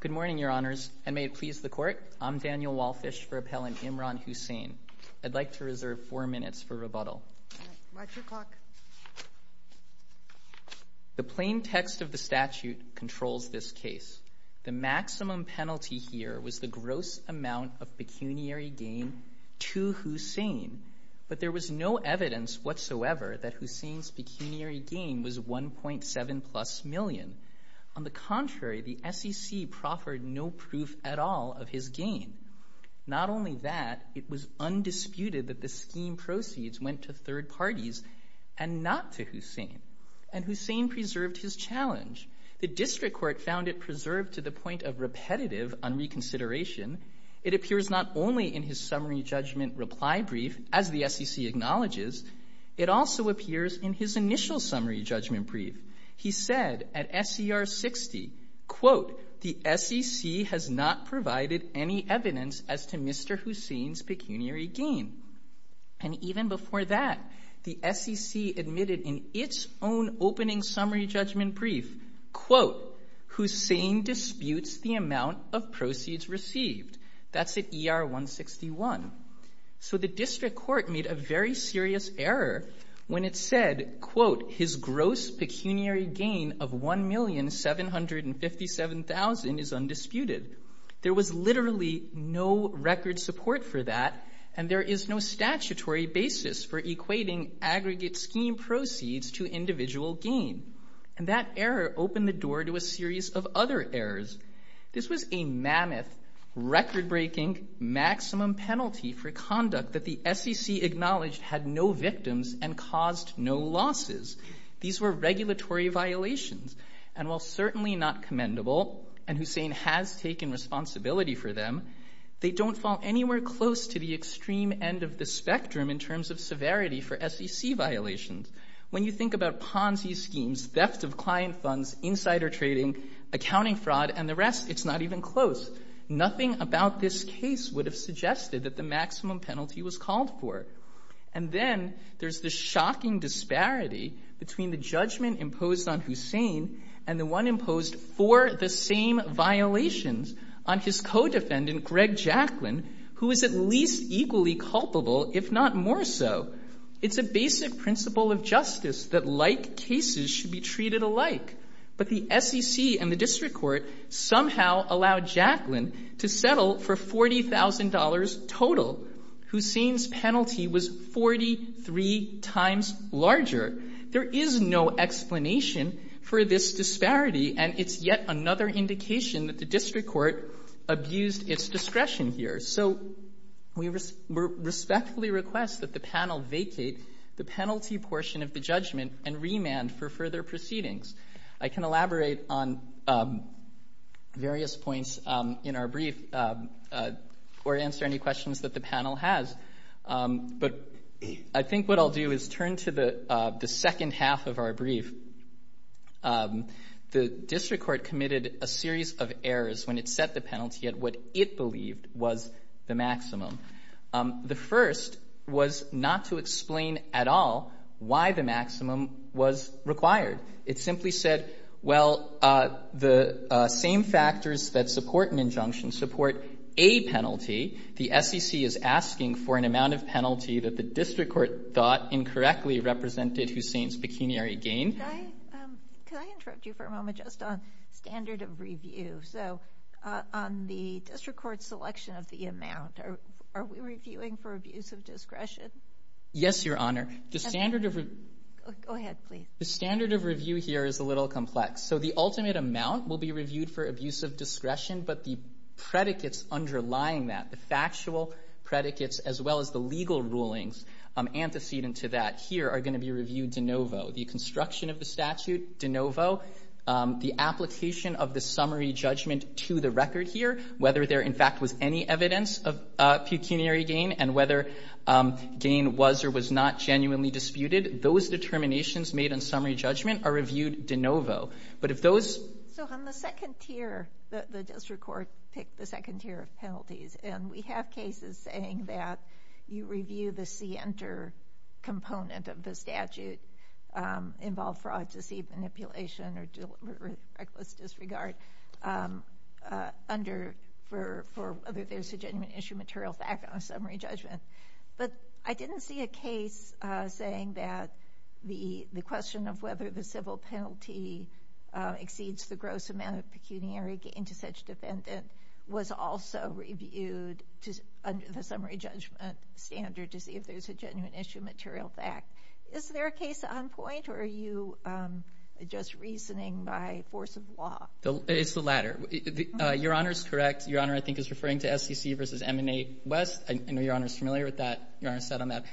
Good morning, Your Honors, and may it please the Court, I'm Daniel Walfish for Appellant Imran Husain. I'd like to reserve four minutes for rebuttal. The plain text of the statute controls this case. The maximum penalty here was the gross amount of pecuniary gain to Husain. But there was no evidence whatsoever that Husain's pecuniary gain was 1.7 plus million. On the contrary, the SEC proffered no proof at all of his gain. Not only that, it was undisputed that the scheme proceeds went to third parties and not to Husain. And Husain preserved his challenge. The District Court found it preserved to the point of repetitive unreconsideration. It appears not only in his summary judgment reply brief, as the SEC acknowledges, it also appears in his initial summary judgment brief. He said at SER 60, quote, the SEC has not provided any evidence as to Mr. Husain's pecuniary gain. And even before that, the SEC admitted in its own opening summary judgment brief, quote, Husain disputes the amount of proceeds received. That's at ER 161. So the District Court made a very serious error when it said, quote, his gross pecuniary gain of $1,757,000 is undisputed. There was literally no record support for that and there is no statutory basis for equating aggregate scheme proceeds to individual gain. And that error opened the door to a series of other errors. This was a mammoth, record-breaking maximum penalty for conduct that the SEC acknowledged had no victims and caused no losses. These were regulatory violations. And while certainly not commendable, and Husain has taken responsibility for them, they don't fall anywhere close to the extreme end of the spectrum in terms of severity for SEC violations. When you think about Ponzi schemes, theft of client funds, insider trading, accounting fraud, and the rest, it's not even close. Nothing about this case would have suggested that the maximum penalty was called for. And then there's the shocking disparity between the judgment imposed on Husain and the one imposed for the same violations on his co-defendant, Greg Jacklin, who is at least equally culpable, if not more so. It's a basic principle of justice that like cases should be treated alike. But the SEC and the district court somehow allowed Jacklin to settle for $40,000 total. Husain's penalty was 43 times larger. There is no explanation for this disparity, and it's yet another indication that the district court abused its discretion here. So we respectfully request that the panel vacate the penalty portion of the judgment and remand for further proceedings. I can elaborate on various points in our brief or answer any questions that the panel has, but I think what I'll do is turn to the second half of our brief. The district court committed a series of errors when it set the penalty at what it believed was the maximum. The first was not to explain at all why the maximum was required. It simply said, well, the same factors that support an injunction support a penalty. The SEC is asking for an amount of penalty that the district court thought incorrectly represented Husain's pecuniary gain. Can I interrupt you for a moment just on standard of review? So on the district court selection of the amount, are we reviewing for abuse of discretion? Yes, Your Honor. The standard of review here is a little complex. So the ultimate amount will be reviewed for abuse of discretion, but the predicates underlying that, the factual predicates as well as the legal rulings antecedent to that here are going to be reviewed de novo. The construction of the statute, de novo. The application of the summary judgment to the record here, whether there in fact was any evidence of pecuniary gain and whether gain was or was not genuinely disputed, those determinations made in summary judgment are reviewed de novo. But if those... So on the second tier, the district court picked the second tier of penalties, and we have cases saying that you review the C enter component of the statute, involve fraud, deceive, manipulation, or reckless disregard for whether there's a genuine issue material fact on a summary judgment. But I didn't see a case saying that the question of whether the civil penalty exceeds the gross amount of pecuniary gain to such defendant was also reviewed under the summary judgment standard to see if there's a genuine issue material fact. Is there a case on point, or are you just reasoning by force of law? It's the latter. Your Honor is correct. Your Honor, I think, is referring to SEC versus M&A West. I know Your Honor is familiar with that, Your Honor said on that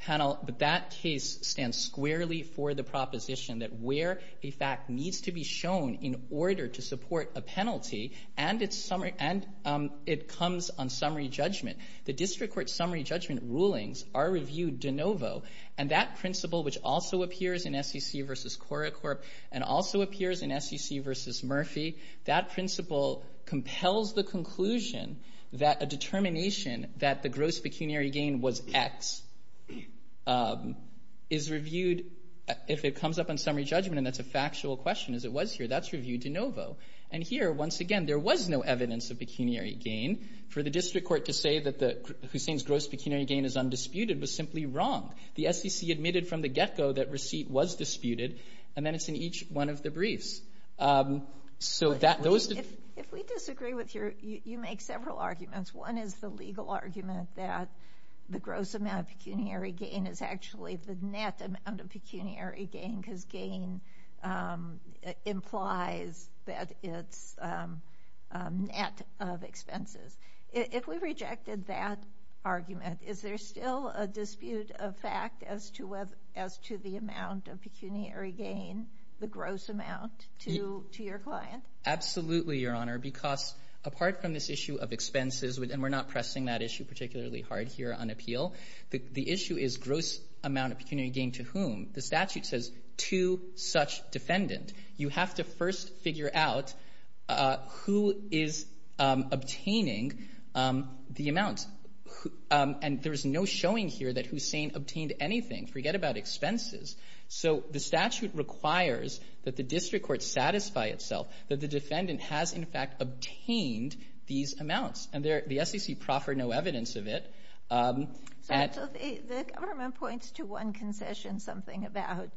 panel, but that case stands squarely for the proposition that where a fact needs to be shown in order to support a penalty, and it comes on summary judgment. The district court summary judgment rulings are reviewed de novo, and that principle, which also appears in SEC versus CoraCorp, and also appears in SEC versus Murphy, that principle compels the conclusion that a determination that the gross pecuniary gain was X is reviewed if it comes up on summary judgment, and that's a factual question, as it was here. That's reviewed de novo. And here, once again, there was no evidence of pecuniary gain. For the district court to say that Hussain's gross pecuniary gain is undisputed was simply wrong. The SEC admitted from the get-go that receipt was disputed, and then it's in each one of the briefs. So those — If we disagree with your — you make several arguments. One is the legal argument that the gross amount of pecuniary gain is actually the net amount of pecuniary gain, because gain implies that it's a net of expenses. If we rejected that argument, is there still a dispute of fact as to the amount of pecuniary gain, the gross amount, to your client? Absolutely, Your Honor, because apart from this issue of expenses, and we're not pressing that issue particularly hard here on appeal, the issue is gross amount of pecuniary gain to whom. The statute says to such defendant. You have to first figure out who is obtaining the amount. And there is no showing here that Hussain obtained anything. Forget about expenses. So the statute requires that the district court satisfy itself that the defendant has, in fact, obtained these amounts. And the SEC proffered no evidence of it. So the government points to one concession, something about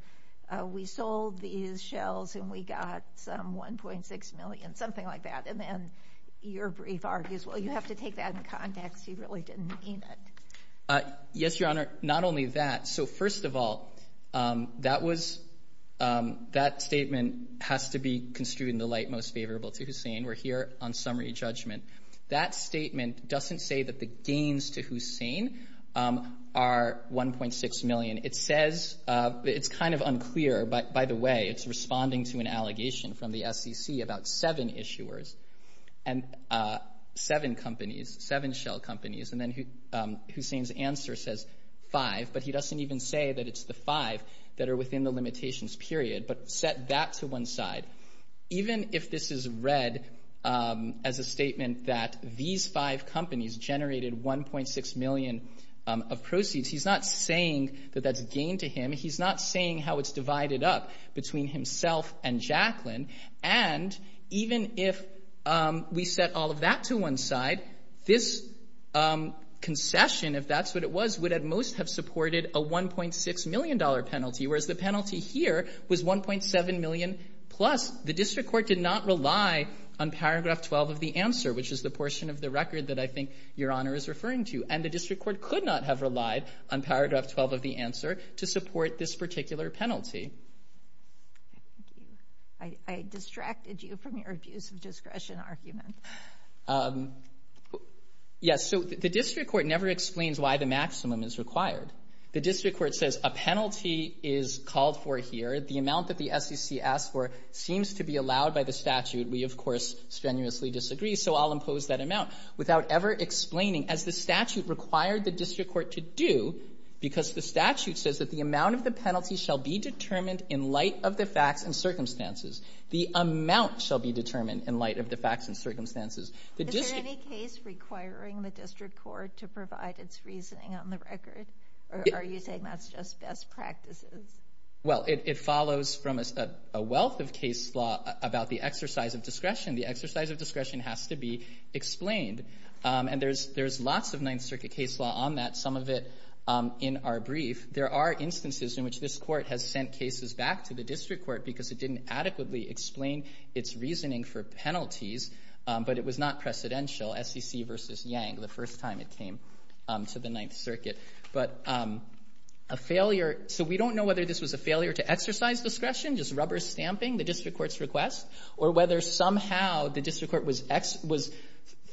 we sold these shells and we got some $1.6 million, something like that, and then your brief argues, well, you have to take that in context. He really didn't mean it. Yes, Your Honor. Not only that. So first of all, that was — that statement has to be construed in the light most favorable to Hussain. We're here on summary judgment. That statement doesn't say that the gains to Hussain are $1.6 million. It says — it's kind of unclear, by the way. It's responding to an allegation from the SEC about seven issuers and seven companies, seven shell companies. And then Hussain's answer says five. But he doesn't even say that it's the five that are within the limitations period, but set that to one side. Even if this is read as a statement that these five companies generated $1.6 million of proceeds, he's not saying that that's a gain to him. He's not saying how it's divided up between himself and Jaclyn. And even if we set all of that to one side, this concession, if that's what it was, would at most have supported a $1.6 million penalty, whereas the penalty here was $1.7 million plus the district court did not rely on paragraph 12 of the answer, which is the portion of the record that I think Your Honor is referring to. And the district court could not have relied on paragraph 12 of the answer to support this particular penalty. Thank you. I distracted you from your abuse of discretion argument. Yes. So the district court never explains why the maximum is required. The district court says a penalty is called for here. The amount that the SEC asks for seems to be allowed by the statute. We, of course, strenuously disagree, so I'll impose that amount without ever explaining as the statute required the district court to do because the statute says that the amount of the penalty shall be determined in light of the facts and circumstances. The amount shall be determined in light of the facts and circumstances. Is there any case requiring the district court to provide its reasoning on the record? Or are you saying that's just best practices? Well, it follows from a wealth of case law about the exercise of discretion. The exercise of discretion has to be explained. And there's lots of Ninth Circuit case law on that. Some of it in our brief. There are instances in which this court has sent cases back to the district court because it didn't adequately explain its reasoning for penalties, but it was not precedential, SEC versus Yang, the first time it came to the Ninth Circuit. But a failure, so we don't know whether this was a failure to exercise discretion, just rubber stamping the district court's request, or whether somehow the district court was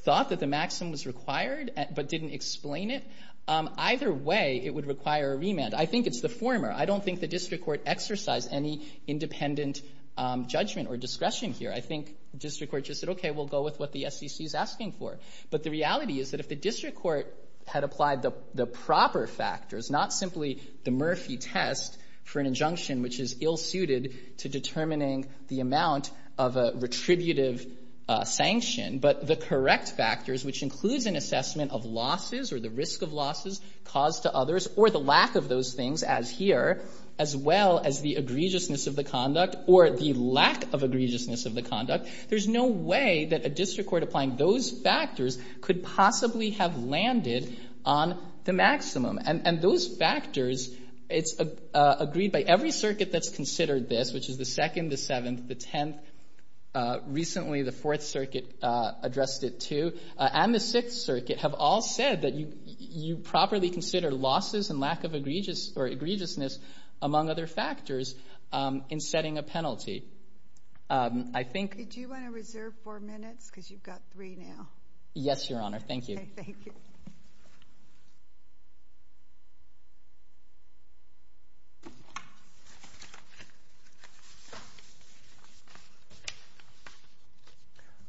thought that the maxim was required but didn't explain it. Either way, it would require a remand. I think it's the former. I don't think the district court exercised any independent judgment or discretion here. I think the district court just said, okay, we'll go with what the SEC is asking for. But the reality is that if the district court had applied the proper factors, not simply the Murphy test for an injunction which is ill-suited to determining the amount of a retributive sanction, but the correct factors, which includes an assessment of losses or the risk of losses caused to others, or the lack of those things as here, as well as the egregiousness of the conduct or the lack of egregiousness of the conduct, there's no way that a district court applying those factors could possibly have landed on the maximum. And those factors, it's agreed by every circuit that's considered this, which is the Second, the Seventh, the Tenth, recently the Fourth Circuit addressed it, too, and the Sixth Circuit have all said that you properly consider losses and lack of egregious or egregiousness, among other factors, in setting a penalty. I think... Did you want to reserve four minutes? Because you've got three now. Yes, Your Honor. Thank you. Okay, thank you.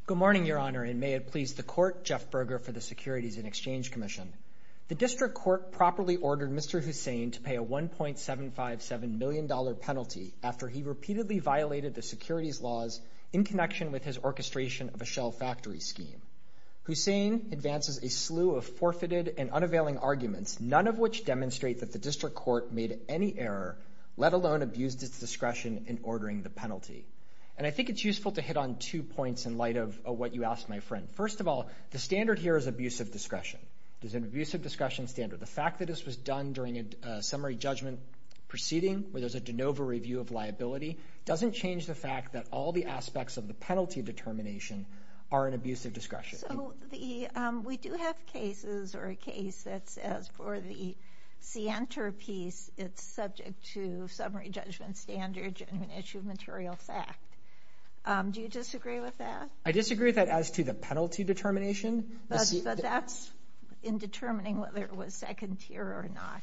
Good morning, Your Honor, and may it please the Court, Jeff Berger for the Securities and Exchange Commission. The district court properly ordered Mr. Hussain to pay a $1.757 million penalty after he repeatedly violated the securities laws in connection with his orchestration of a shell factory scheme. Hussain advances a slew of forfeited and unavailing arguments, none of which demonstrate that the district court made any error, let alone abused its discretion in ordering the penalty. And I think it's useful to hit on two points in light of what you asked, my friend. First of all, the standard here is abusive discretion. There's an abusive discretion standard. The fact that this was done during a summary judgment proceeding, where there's a de novo review of liability, doesn't change the fact that all the aspects of the penalty determination are an abusive discretion. So, we do have cases or a case that says for the Sienter piece, it's subject to summary judgment standards and an issue of material fact. Do you disagree with that? I disagree with that as to the penalty determination. But that's in determining whether it was second tier or not.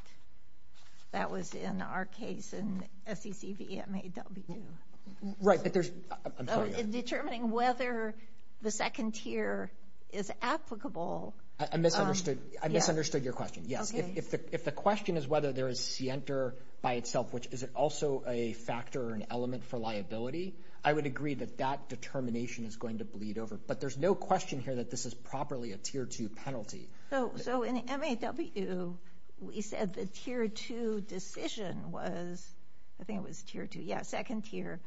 That was in our case in SEC v. MAW. Right, but there's... Determining whether the second tier is applicable. I misunderstood. I misunderstood your question. Yes. If the question is whether there is Sienter by itself, which is also a factor or an element for liability, I would agree that that determination is going to bleed over. But there's no question here that this is properly a tier two penalty. So, in MAW, we said the tier two decision was, I think it was tier two, yeah, second tier,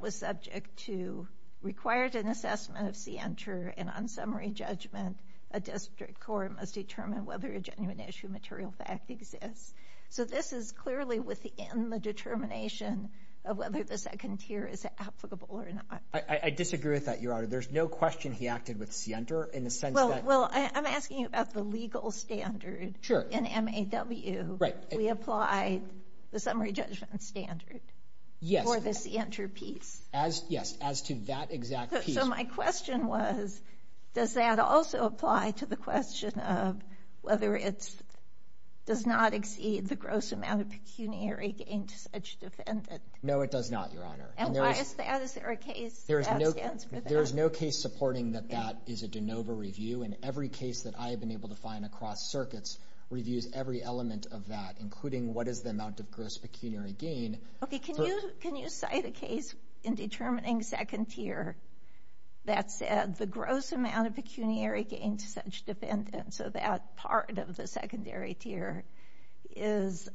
was subject to required an assessment of Sienter and on summary judgment, a district court must determine whether a genuine issue of material fact exists. So, this is clearly within the determination of whether the second tier is applicable or not. I disagree with that, Your Honor. There's no question he acted with Sienter in the sense that... Well, I'm asking you about the legal standard. Sure. In MAW. Right. We applied the summary judgment standard for the Sienter piece. Yes, as to that exact piece. So, my question was, does that also apply to the question of whether it does not exceed the gross amount of pecuniary gain to such defendant? No, it does not, Your Honor. And why is that? Is there a case that stands for that? There is no case supporting that that is a de novo review. And every case that I have been able to find across circuits reviews every element of that, including what is the amount of gross pecuniary gain... Okay, can you cite a case in determining second tier that said the gross amount of pecuniary gain to such defendant, so that part of the secondary tier is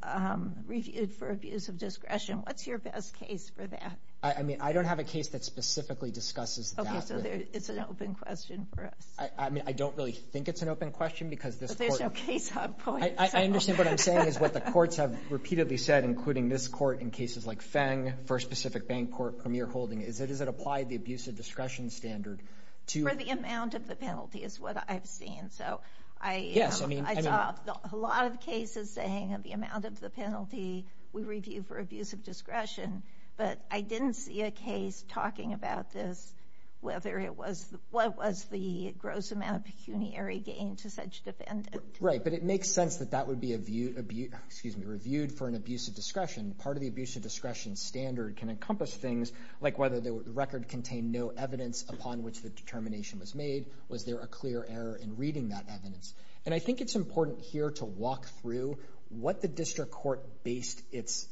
reviewed for abuse of discretion. What's your best case for that? I mean, I don't have a case that specifically discusses that. Okay, so it's an open question for us. I mean, I don't really think it's an open question because this court... But there's no case on point. I understand what I'm saying is what the courts have repeatedly said, including this court in cases like Feng, First Pacific Bank Court, Premier Holding. Does it apply the abuse of discretion standard to... For the amount of the penalty is what I've seen. Yes, I mean... I saw a lot of cases saying the amount of the penalty we review for abuse of discretion, but I didn't see a case talking about this, whether it was... What was the gross amount of pecuniary gain to such defendant? Right, but it makes sense that that would be reviewed for an abuse of discretion. Part of the abuse of discretion standard can encompass things like whether the record contained no evidence upon which the determination was made. Was there a clear error in reading that evidence? And I think it's important here to walk through what the district court based its...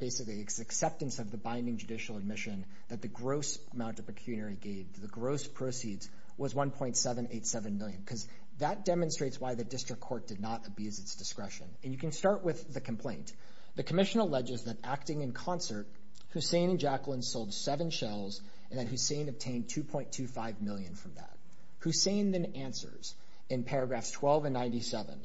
Basically, its acceptance of the binding judicial admission that the gross amount of pecuniary gain, the gross proceeds, was 1.787 million. Because that demonstrates why the district court did not abuse its discretion. And you can start with the complaint. The commission alleges that acting in concert, Hussain and Jacqueline sold seven shells and that Hussain obtained 2.25 million from that. Hussain then answers in paragraphs 12 and 97,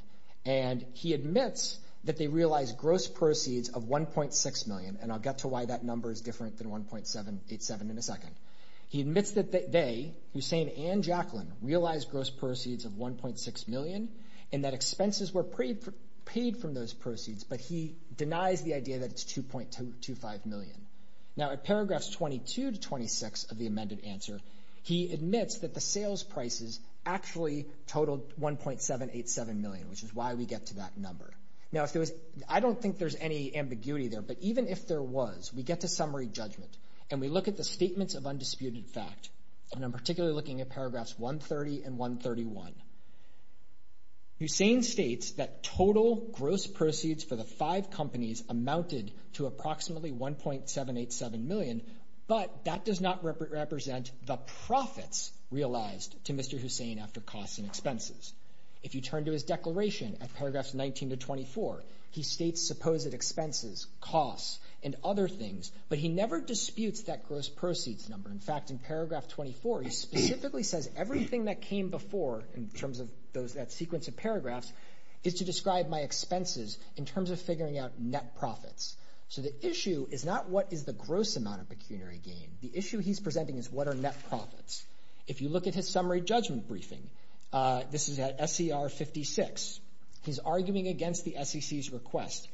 and he admits that they realized gross proceeds of 1.6 million, and I'll get to why that number is different than 1.87 in a second. He admits that they, Hussain and Jacqueline, realized gross proceeds of 1.6 million and that expenses were paid from those proceeds, but he denies the idea that it's 2.25 million. Now, at paragraphs 22 to 26 of the amended answer, he admits that the sales prices actually totaled 1.787 million, which is why we get to that number. Now, I don't think there's any ambiguity there, but even if there was, we get to summary judgment and we look at the statements of undisputed fact. And I'm particularly looking at paragraphs 130 and 131. Hussain states that total gross proceeds for the five companies amounted to approximately 1.787 million, but that does not represent the profits realized to Mr. Hussain after costs and expenses. If you turn to his declaration at paragraphs 19 to 24, he states supposed expenses, costs, and other things, but he never disputes that gross proceeds number. In fact, in paragraph 24, he specifically says everything that came before in terms of that sequence of paragraphs is to describe my expenses in terms of figuring out net profits. So the issue is not what is the gross amount of pecuniary gain. The issue he's presenting is what are net profits. If you look at his summary judgment briefing, this is at SCR 56. He's arguing against the SEC's request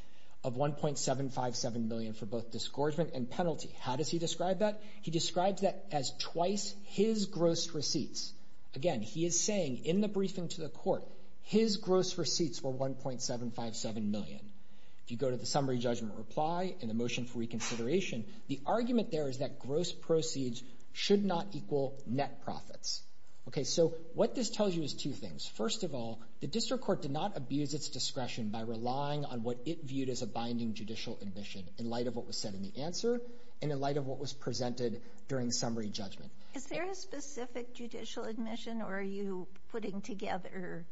of 1.757 million for both disgorgement and penalty. How does he describe that? He describes that as twice his gross receipts. Again, he is saying in the briefing to the court his gross receipts were 1.757 million. If you go to the summary judgment reply and the motion for reconsideration, the argument there is that gross proceeds should not equal net profits. Okay, so what this tells you is two things. First of all, the district court did not abuse its discretion by relying on what it viewed as a binding judicial admission in light of what was said in the answer and in light of what was presented during summary judgment. Is there a specific judicial admission or are you putting together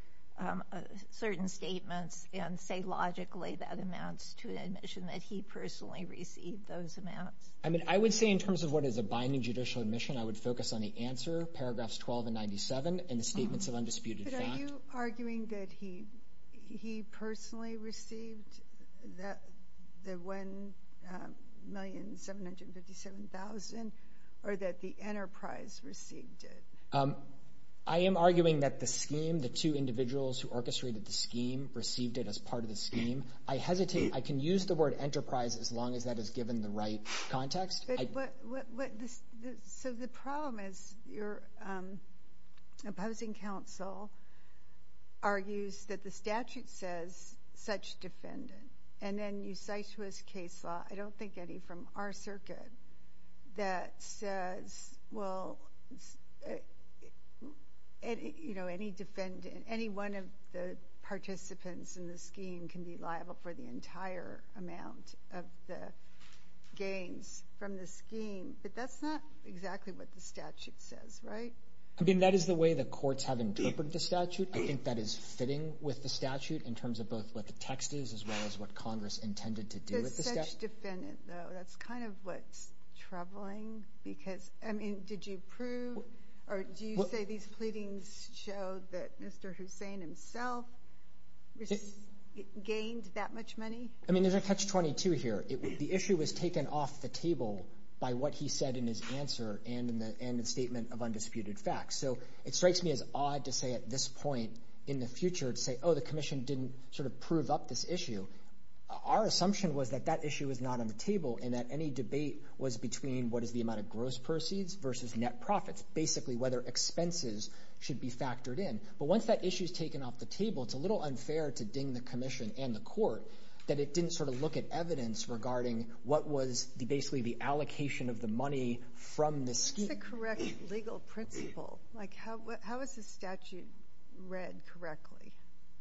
certain statements and say logically that amounts to an admission that he personally received those amounts? I mean, I would say in terms of what is a binding judicial admission, I would focus on the answer, paragraphs 12 and 97, and the statements of undisputed fact. But are you arguing that he personally received the 1,757,000 or that the enterprise received it? I am arguing that the scheme, the two individuals who orchestrated the scheme, received it as part of the scheme. I hesitate, I can use the word enterprise as long as that is given the right context. So the problem is your opposing counsel argues that the statute says such defendant and then you cite to us case law, I don't think any from our circuit, that says, well, you know, any defendant, any one of the participants in the scheme can be liable for the entire amount of the gains from the scheme. But that's not exactly what the statute says, right? I mean, that is the way the courts have interpreted the statute. I think that is fitting with the statute in terms of both what the text is as well as what Congress intended to do with the statute. But such defendant, though, that's kind of what's troubling because, I mean, did you prove or do you say these pleadings show that Mr. Hussein himself gained that much money? I mean, there's a catch-22 here. The issue was taken off the table by what he said in his answer and in the statement of undisputed facts. So it strikes me as odd to say at this point in the future to say, oh, the commission didn't sort of prove up this issue. Our assumption was that that issue was not on the table and that any debate was between what is the amount of gross proceeds versus net profits, basically whether expenses should be factored in. But once that issue is taken off the table, it's a little unfair to ding the commission and the court that it didn't sort of look at evidence regarding what was basically the allocation of the money from this scheme. What's the correct legal principle? Like, how is the statute read correctly?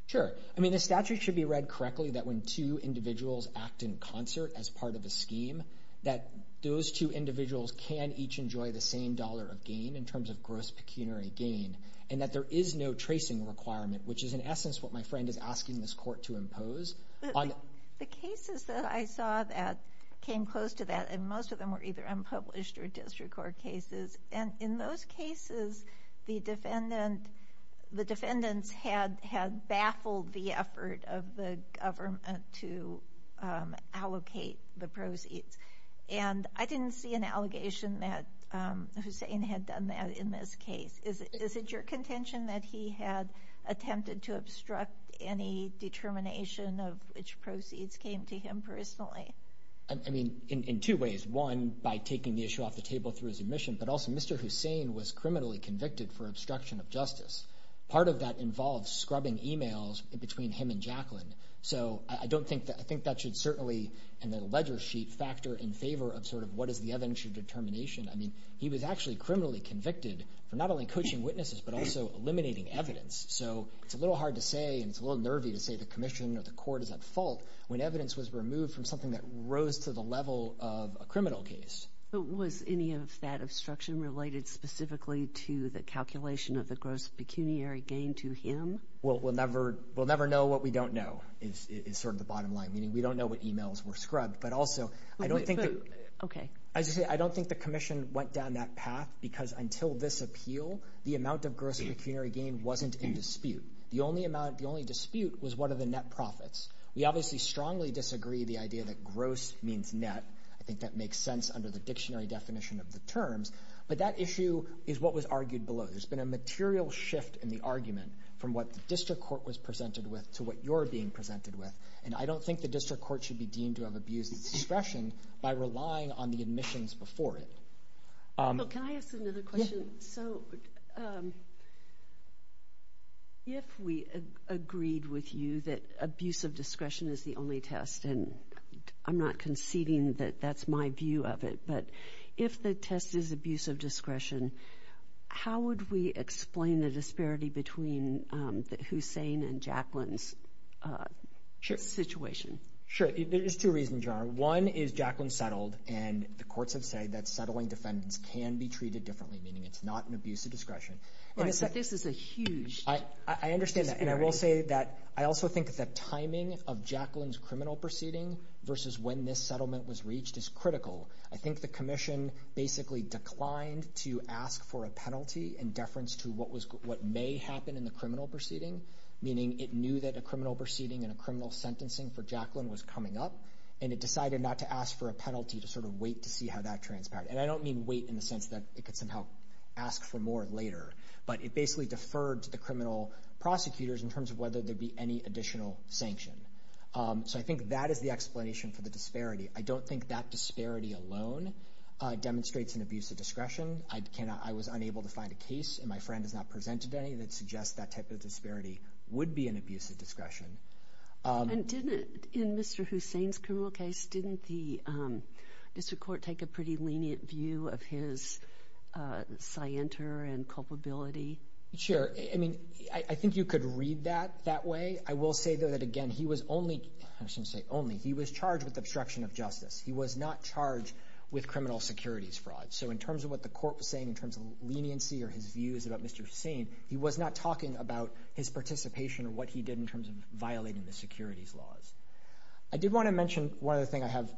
Sure. I mean, the statute should be read correctly that when two individuals act in concert as part of a scheme that those two individuals can each enjoy the same dollar of gain in terms of gross pecuniary gain and that there is no tracing requirement, which is in essence what my friend is asking this court to impose. But the cases that I saw that came close to that and most of them were either unpublished or district court cases, and in those cases the defendants had baffled the effort of the government to allocate the proceeds. And I didn't see an allegation that Hussein had done that in this case. Is it your contention that he had attempted to obstruct any determination of which proceeds came to him personally? I mean, in two ways. One, by taking the issue off the table through his admission, but also Mr. Hussein was criminally convicted for obstruction of justice. Part of that involves scrubbing emails between him and Jacqueline. So I think that should certainly in the ledger sheet factor in favor of sort of what is the evidential determination. I mean, he was actually criminally convicted for not only coaching witnesses, but also eliminating evidence. So it's a little hard to say and it's a little nervy to say the commission or the court is at fault when evidence was removed from something that rose to the level of a criminal case. But was any of that obstruction related specifically to the calculation of the gross pecuniary gain to him? We'll never know what we don't know is sort of the bottom line, meaning we don't know what emails were scrubbed, but also I don't think the commission went down that path because until this appeal, the amount of gross pecuniary gain wasn't in dispute. The only dispute was what are the net profits. We obviously strongly disagree the idea that gross means net. I think that makes sense under the dictionary definition of the terms. But that issue is what was argued below. There's been a material shift in the argument from what the district court was presented with to what you're being presented with. And I don't think the district court should be deemed to have abused discretion by relying on the admissions before it. Can I ask another question? So if we agreed with you that abuse of discretion is the only test and I'm not conceding that that's my view of it, but if the test is abuse of discretion, how would we explain the disparity between Hussein and Jacqueline's situation? Sure. There's two reasons, Your Honor. One is Jacqueline settled and the courts have said that settling defendants can be treated differently, meaning it's not an abuse of discretion. But this is a huge disparity. I understand that. And I will say that I also think that timing of Jacqueline's criminal proceeding versus when this settlement was reached is critical. I think the commission basically declined to ask for a penalty in deference to what may happen in the criminal proceeding, meaning it knew that a criminal proceeding and a criminal sentencing for Jacqueline was coming up and it decided not to ask for a penalty to sort of wait to see how that transpired. And I don't mean wait in the sense that it could somehow ask for more later, but it basically deferred to the criminal prosecutors in terms of whether there'd be any additional sanction. So I think that is the explanation for the disparity. I don't think that disparity alone demonstrates an abuse of discretion. I was unable to find a case, and my friend has not presented any, that suggests that type of disparity would be an abuse of discretion. And didn't, in Mr. Hussain's criminal case, didn't the district court take a pretty lenient view of his scienter and culpability? Sure. I mean, I think you could read that that way. I will say, though, that, again, he was only, I shouldn't say only, he was charged with obstruction of justice. He was not charged with criminal securities fraud. So in terms of what the court was saying in terms of leniency or his views about Mr. Hussain, he was not talking about his participation or what he did in terms of violating the securities laws. I did want to mention one other thing I have,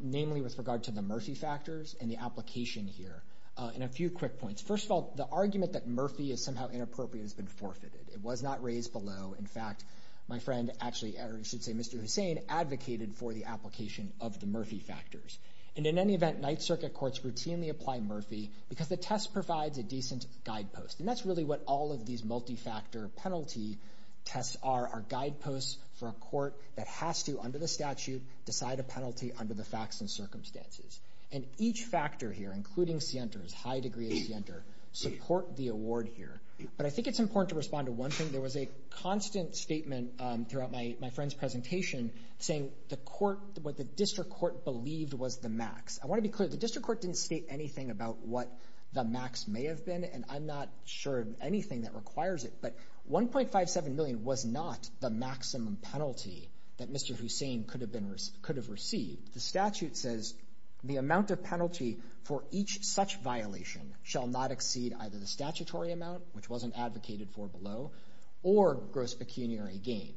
namely with regard to the Murphy factors and the application here. And a few quick points. First of all, the argument that Murphy is somehow inappropriate has been forfeited. It was not raised below. In fact, my friend actually, or I should say Mr. Hussain, advocated for the application of the Murphy factors. And in any event, Ninth Circuit courts routinely apply Murphy because the test provides a decent guidepost. And that's really what all of these multi-factor penalty tests are, are guideposts for a court that has to, under the statute, decide a penalty under the facts and circumstances. And each factor here, including Sienter's, high degree of Sienter, support the award here. But I think it's important to respond to one thing. There was a constant statement throughout my friend's presentation saying the court, what the district court believed was the max. I want to be clear, the district court didn't state anything about what the max may have been. And I'm not sure of anything that requires it. But $1.57 million was not the maximum penalty that Mr. Hussain could have received. The statute says the amount of penalty for each such violation shall not exceed either the statutory amount, which wasn't advocated for below, or gross pecuniary gain.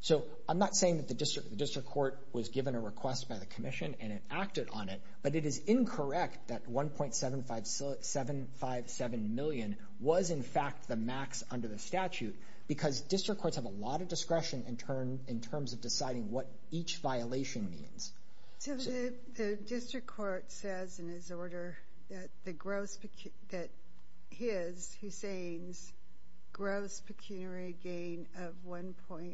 So I'm not saying that the district court was given a request by the commission and it acted on it. But it is incorrect that $1.757 million was, in fact, the max under the statute because district courts have a lot of discretion in terms of deciding what each violation means. So the district court says in its order that his, Hussain's, gross pecuniary gain of $1.757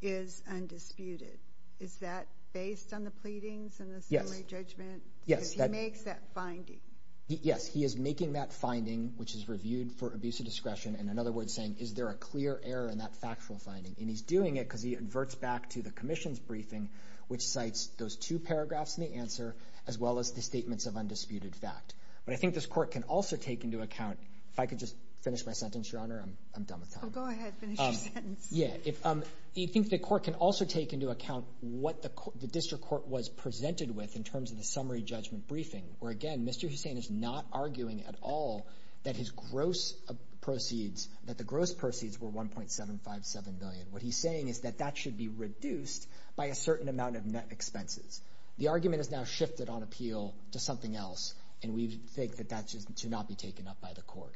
is undisputed. Is that based on the pleadings and the summary judgment? Yes. Because he makes that finding. Yes, he is making that finding, which is reviewed for abuse of discretion, and in other words saying, is there a clear error in that factual finding? And he's doing it because he adverts back to the commission's briefing, which cites those two paragraphs in the answer as well as the statements of undisputed fact. But I think this court can also take into account, if I could just finish my sentence, Your Honor, I'm done with time. Go ahead, finish your sentence. Yeah, I think the court can also take into account what the district court was presented with in terms of the summary judgment briefing, where again, Mr. Hussain is not arguing at all that his gross proceeds, that the gross proceeds were $1.757 million. What he's saying is that that should be reduced by a certain amount of net expenses. The argument has now shifted on appeal to something else, and we think that that should not be taken up by the court.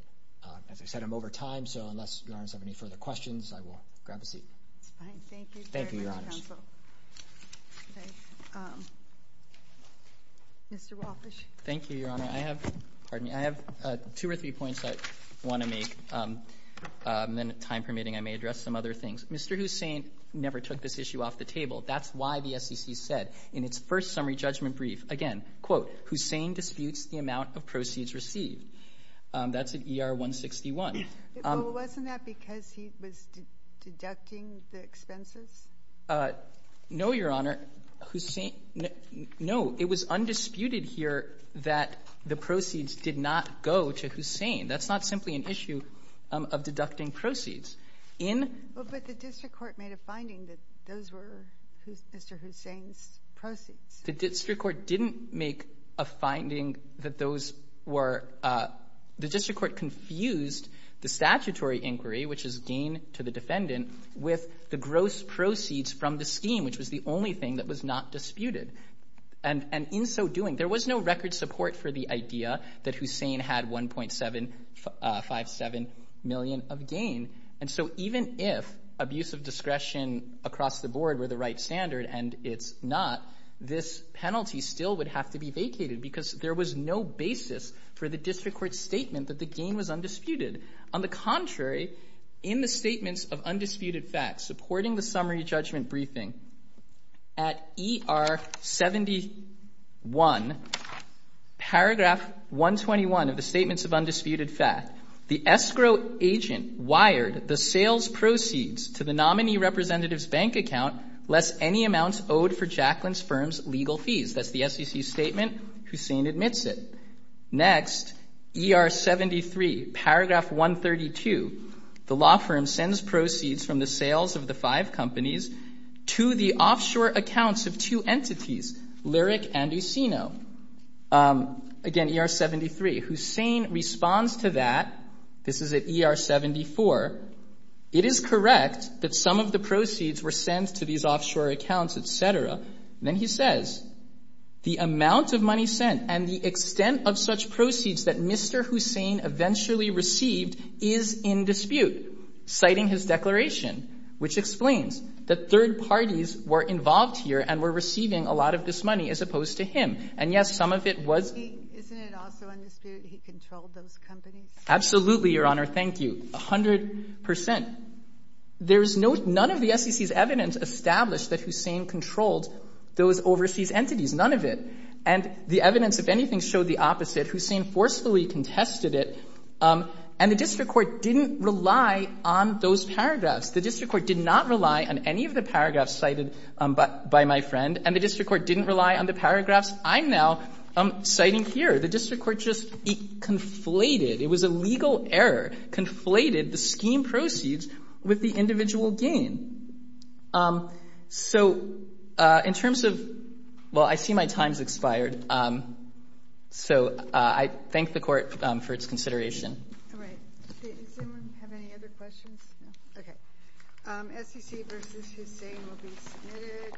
As I said, I'm over time, so unless Your Honors have any further questions, I will grab a seat. Thank you, Your Honors. Mr. Walfish. Thank you, Your Honor. I have, pardon me, I have two or three points I want to make. Then, time permitting, I may address some other things. Mr. Hussain never took this issue off the table. That's why the SEC said, in its first summary judgment brief, again, quote, Hussain disputes the amount of proceeds received. That's at ER 161. Well, wasn't that because he was deducting the expenses? No, Your Honor. Hussain, no. It was undisputed here that the proceeds did not go to Hussain. That's not simply an issue of deducting proceeds. In But the district court made a finding that those were Mr. Hussain's proceeds. The district court didn't make a finding that those were The district court confused the statutory inquiry, which is gain to the defendant, with the gross proceeds from the scheme, which was the only thing that was not disputed. And in so doing, there was no record support for the idea that Hussain had 1.757 million of gain. And so even if abuse of discretion across the board were the right standard, and it's not, this penalty still would have to be vacated because there was no basis for the district court statement that the gain was undisputed. On the contrary, in the statements of undisputed facts supporting the summary judgment briefing at ER 71, paragraph 121 of the statements of undisputed facts, the escrow agent wired the sales proceeds to the nominee representative's bank account lest any amounts owed for Jaclyn's firm's legal fees. That's the SEC statement. Hussain admits it. Next, ER 73, paragraph 132. The law firm sends proceeds from the sales of the five companies to the offshore accounts of two entities, Lyric and Usino. Again, ER 73. Hussain responds to that. This is at ER 74. It is correct that some of the proceeds were sent to these offshore accounts, et cetera. Then he says, the amount of money sent and the extent of such proceeds that Mr. Hussain eventually received is in dispute, citing his declaration, which explains that third parties were involved here and were receiving a lot of this money as opposed to him. And, yes, some of it was... Isn't it also undisputed he controlled those companies? Absolutely, Your Honor. Thank you. A hundred percent. There is no, none of the SEC's evidence established that Hussain controlled those overseas entities. None of it. And the evidence, if anything, showed the opposite. Hussain forcefully contested it. And the district court didn't rely on those paragraphs. The district court did not rely on any of the paragraphs cited by my friend. And the district court didn't rely on the paragraphs I'm now citing here. The district court just conflated, it was a legal error, conflated the scheme proceeds with the individual gain. So, in terms of... Well, I see my time's expired. So, I thank the Court for its consideration. All right. Does anyone have any other questions? No? Okay. SEC v. Hussain will be submitted.